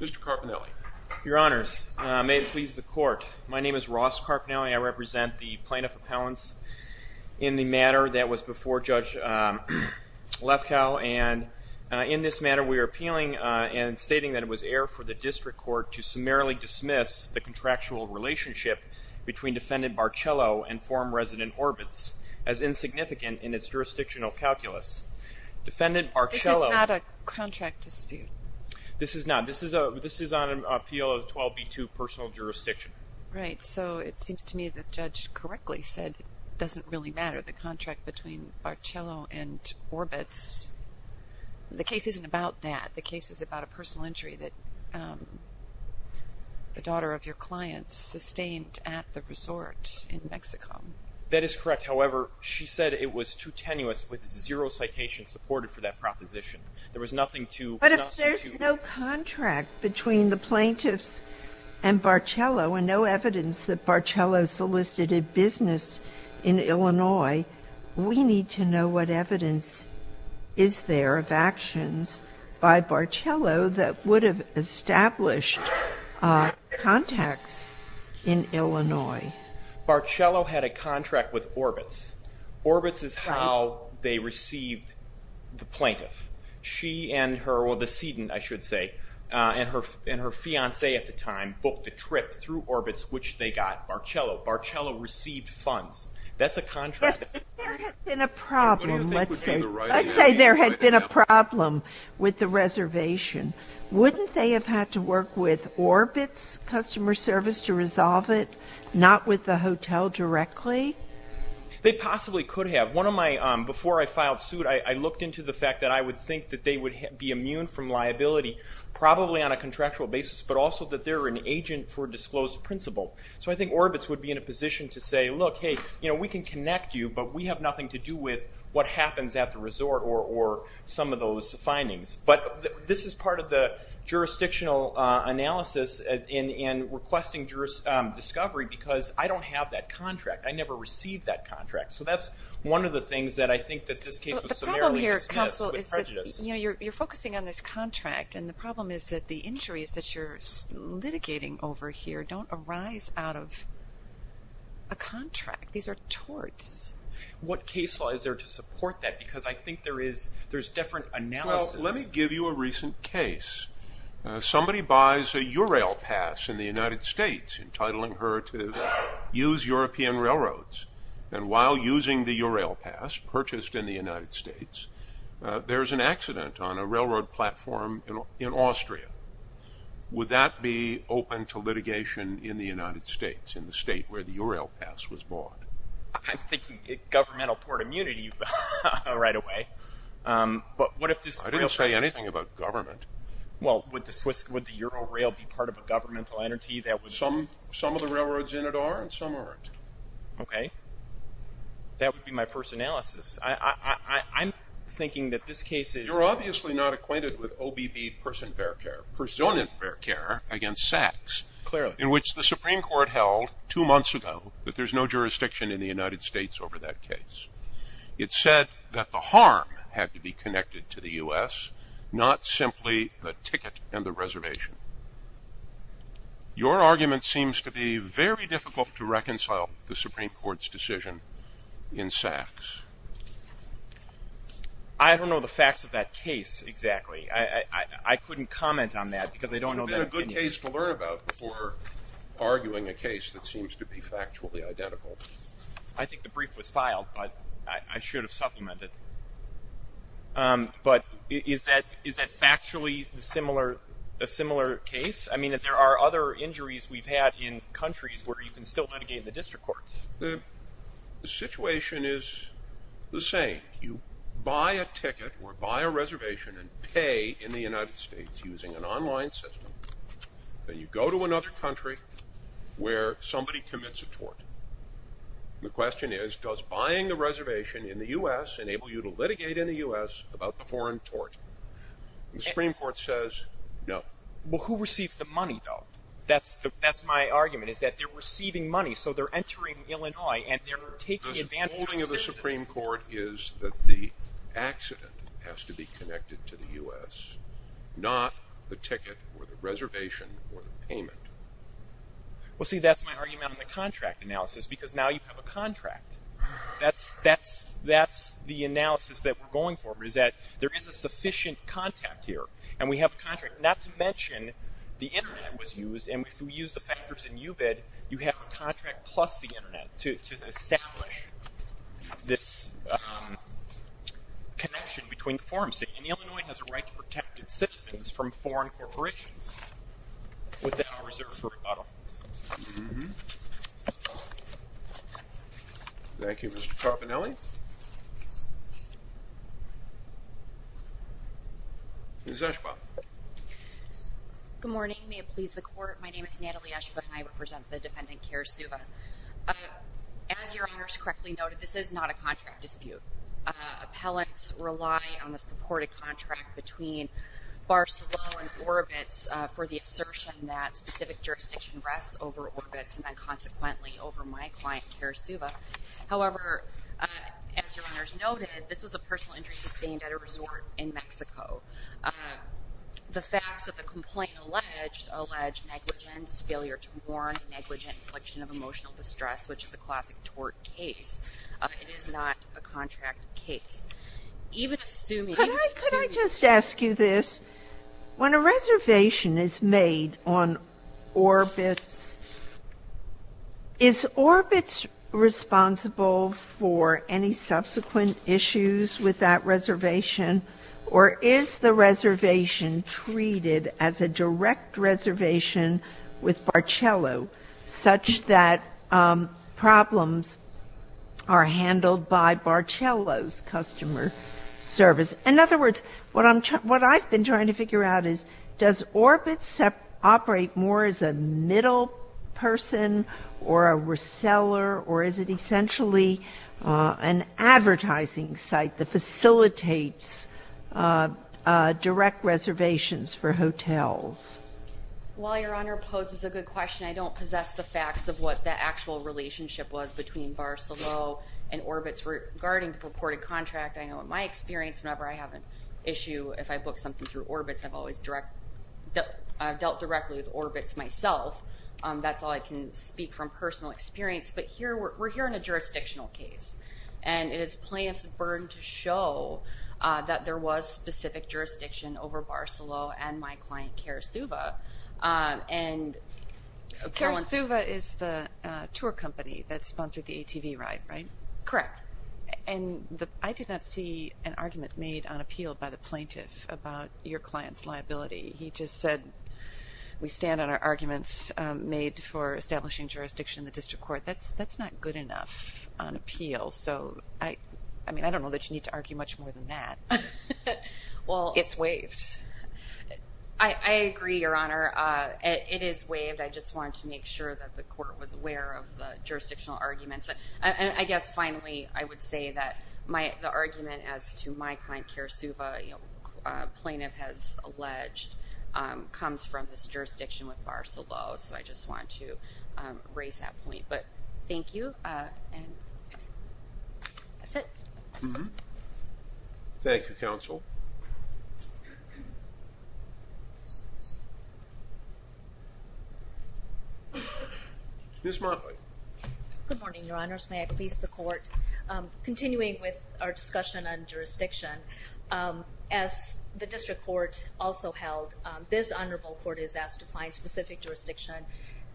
Mr. Carpinelli. Your honors, may it please the court. My name is Ross Carpinelli. I represent the plaintiff appellants in the matter that was before Judge Lefkow and in this matter we are appealing and stating that it was air for the district court to summarily dismiss the contractual relationship between defendant Barcelo and form resident Orbitz as insignificant in its jurisdictional calculus. Defendant Barcelo... This is not a contract dispute. This is not. This is a this is on an appeal of 12b2 personal jurisdiction. Right, so it seems to me that Judge correctly said it doesn't really matter the contract between Barcelo and Orbitz. The case isn't about that. The case is about a personal injury that the daughter of your clients sustained at the resort in Mexico. That is correct. However, she said it was too tenuous with zero citation supported for that proposition. There was nothing to But if there's no contract between the plaintiffs and Barcelo and no evidence that Barcelo solicited business in Illinois, we need to know what evidence is there of actions by Barcelo that would have established contacts in Illinois. Barcelo had a contract with Orbitz. Orbitz is how they received the plaintiff. She and her, well the sedan I should say, and her received funds. That's a contract. There had been a problem, let's say there had been a problem with the reservation. Wouldn't they have had to work with Orbitz customer service to resolve it, not with the hotel directly? They possibly could have. One of my, before I filed suit, I looked into the fact that I would think that they would be immune from liability probably on a contractual basis, but also that they're an agent for disclosed principle. I think Orbitz would be in a position to say, look, hey, we can connect you, but we have nothing to do with what happens at the resort or some of those findings. This is part of the jurisdictional analysis in requesting discovery because I don't have that contract. I never received that contract. That's one of the things that I think that this case was summarily dismissed with prejudice. You're focusing on this contract. The problem is that the injuries that you're litigating over here don't arise out of a contract. These are torts. What case law is there to support that? Because I think there's different analysis. Let me give you a recent case. Somebody buys a Eurail pass in the United States entitling her to use European railroads. While using the Eurail pass purchased in the United States, there's an accident on a railroad platform in Austria. Would that be open to litigation in the United States, in the state where the Eurail pass was bought? I'm thinking governmental tort immunity right away. I didn't say anything about government. Would the Eurail be part of a governmental entity that would... Some of the railroads in it are and some aren't. Okay. That would be my first analysis. I'm thinking that this case is... You're obviously not acquainted with OBB Person Fair Care, Persona Fair Care, against Sachs, in which the Supreme Court held two months ago that there's no jurisdiction in the United States over that case. It said that the harm had to be connected to the U.S., not simply the ticket and the reservation. Your argument seems to be very difficult to reconcile the Supreme Court's decision in Sachs. I don't know the facts of that case exactly. I couldn't comment on that because I don't It would have been a good case to learn about before arguing a case that seems to be factually identical. I think the brief was filed, but I should have supplemented. But is that factually a similar case? I mean, there are other injuries we've had in countries where you can still litigate in the district courts. The situation is the same. You buy a ticket or buy a reservation and pay in the United States using an online system. Then you go to another country where somebody commits a tort. The question is, does buying the reservation in the U.S. enable you to litigate in the U.S. about the foreign tort? The Supreme Court says no. Well, who receives the money, though? That's my argument, is that they're receiving money, so they're entering Illinois and they're taking advantage of citizens. The holding of the Supreme Court is that the accident has to be connected to the U.S., not the ticket or the reservation or the payment. Well, see, that's my argument on the contract analysis, because now you have a contract. That's the analysis that we're going for, is that there is a sufficient contact here, and we have a contract, not to mention the Internet was used, and if we use the factors in UBID, you have a contract plus the Internet to establish this connection between the foreign state. And Illinois has a right to protect its citizens from foreign corporations with the power reserved for rebuttal. Thank you, Mr. Carbonelli. Ms. Eshba. Good morning. May it please the Court, my name is Natalie Eshba, and I represent the defendant, Kara Suva. As Your Honors correctly noted, this is not a contract dispute. Appellants rely on this purported contract between Barceló and Orbitz for the assertion that specific jurisdiction rests over Orbitz and then consequently over my client, Kara Suva. However, as Your Honors noted, this was a personal injury sustained at a resort in Mexico. The facts of the complaint allege negligence, failure to warrant negligent infliction of emotional distress, which is a classic tort case. It is not a contract case. Could I just ask you this? When a reservation is made on Orbitz, is Orbitz responsible for any subsequent issues with that reservation, or is the reservation treated as a direct reservation with Barceló, such that problems are handled by Barceló's customer service? In other words, what I've been trying to figure out is, does Orbitz operate more as a middle person or a reseller, or is it essentially an advertising site that facilitates direct reservations for hotels? While Your Honor poses a good question, I don't possess the facts of what the actual relationship was between Barceló and Orbitz regarding the purported contract. I know in my experience, whenever I have an issue, if I book something through Orbitz, I've always dealt directly with Orbitz myself. That's all I can speak from personal experience. But we're here in a jurisdictional case, and it is plaintiff's burden to show that there was specific jurisdiction over Barceló and my client Carasuva. Carasuva is the tour company that sponsored the ATV ride, right? Correct. And I did not see an argument made on appeal by the plaintiff about your client's liability. He just said, we stand on our arguments made for establishing jurisdiction in the district court. That's not good enough on appeal. I don't know that you need to argue much more than that. It's waived. I agree, Your Honor. It is waived. I just wanted to make sure that the court was aware of the jurisdictional arguments. And I guess finally, I would say that the argument as to my client Carasuva, plaintiff has alleged, comes from this jurisdiction with Barceló. So I just wanted to raise that point. But thank you. That's it. Thank you, counsel. Ms. Motley. Good morning, Your Honors. May I please the court? Continuing with our discussion on jurisdiction, as the district court also held, this honorable court is asked to find specific jurisdiction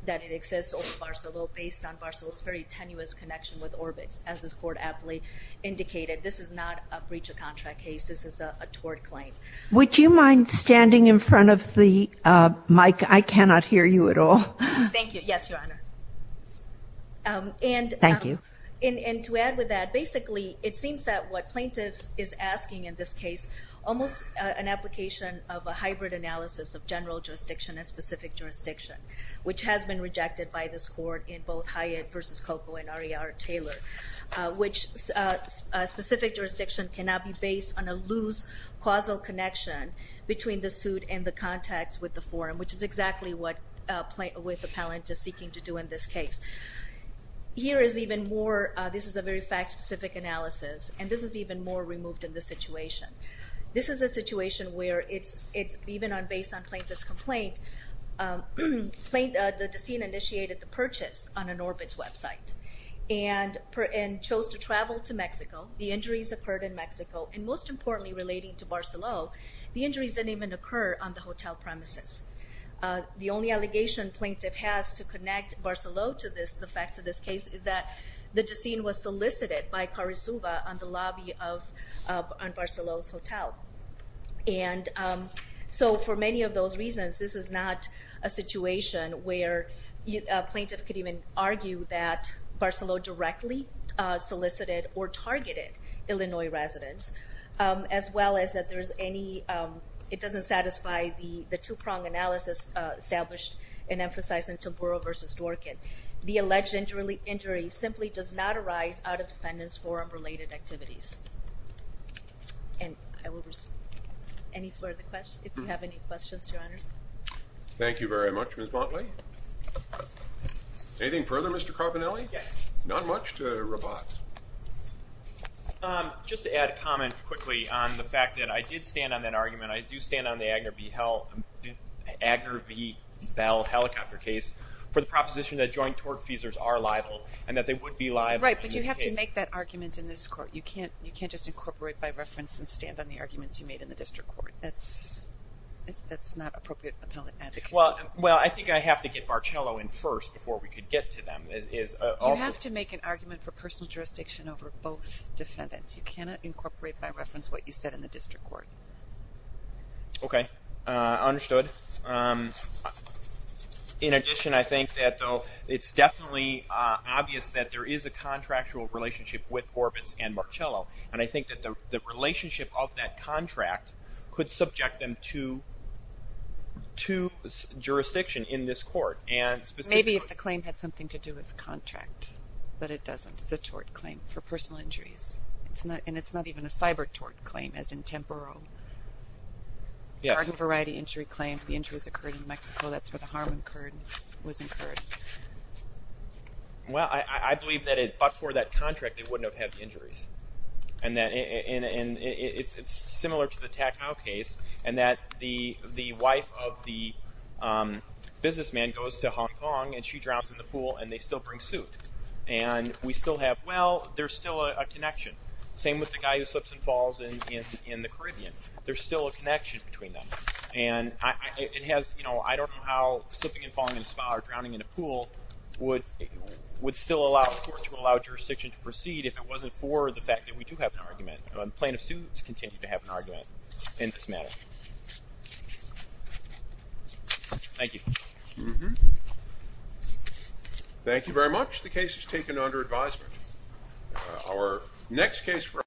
that it exists over Barceló based on Barceló's very tenuous connection with Orbitz, as this court aptly indicated. This is not a breach of contract case. This is a tort claim. Would you mind standing in front of the mic? I cannot hear you at all. Thank you. Yes, Your Honor. Thank you. And to add with that, basically, it seems that what plaintiff is asking in this case, almost an application of a hybrid analysis of general jurisdiction and specific jurisdiction, which has been rejected by this court in both Hyatt v. Coco and R.E.R. Taylor, which specific jurisdiction cannot be based on a loose causal connection between the suit and the contacts with the forum, which is exactly what the plaintiff is seeking to do in this case. Here is even more, this is a very fact-specific analysis, and this is even more removed in this situation. This is a situation where it's, even based on plaintiff's complaint, the decedent initiated the purchase on an Orbitz website and chose to travel to Mexico. The injuries occurred in Mexico, and most importantly, relating to Barceló, the injuries didn't even occur on the hotel premises. The only allegation plaintiff has to connect Barceló to the facts of this case is that the decedent was solicited by Carusova on the premises. This is not a situation where a plaintiff could even argue that Barceló directly solicited or targeted Illinois residents, as well as that there's any, it doesn't satisfy the two-pronged analysis established and emphasized in Tamburo v. Dworkin. The alleged injury simply does not arise out of defendants' forum-related activities. And I will receive any further questions, if you have any questions, Your Honors. Thank you very much, Ms. Motley. Anything further, Mr. Carbonelli? Yes. Not much to rebut. Just to add a comment quickly on the fact that I did stand on that argument, I do stand on the Agner v. Bell helicopter case for the proposition that joint torque fuses are liable, and that they would be liable in this case. Right, but you have to make that argument in this court. You can't just incorporate by reference and stand on the arguments you made in the district court. That's not appropriate appellate advocacy. Well, I think I have to get Barceló in first before we could get to them. You have to make an argument for personal jurisdiction over both defendants. You cannot incorporate by reference what you said in the district court. Okay. Understood. In addition, I think that, though, it's definitely obvious that there is a contractual relationship with Orbitz and Marcello, and I think that the relationship of that contract could subject them to jurisdiction in this court. Maybe if the claim had something to do with contract, but it doesn't. It's a tort claim for personal injuries, and it's not even a cyber-tort claim, as in Temporo. Yes. It's a gargant variety injury claim. The injury has occurred in Mexico. That's where the harm was incurred. Well, I believe that, but for that contract, they wouldn't have had the injuries. It's similar to the Tack Howe case in that the wife of the businessman goes to Hong Kong and she drowns in the pool and they still bring suit. We still have, well, there's still a connection. Same with the guy who slips and falls in the Caribbean. There's still a connection between them. I don't know how slipping and falling in a spa or drowning in a pool would still allow a court to allow jurisdiction to proceed if it wasn't for the fact that we do have an argument. Plaintiffs do continue to have an argument in this matter. Thank you. Thank you very much. The case is taken under advisement. Our next case for...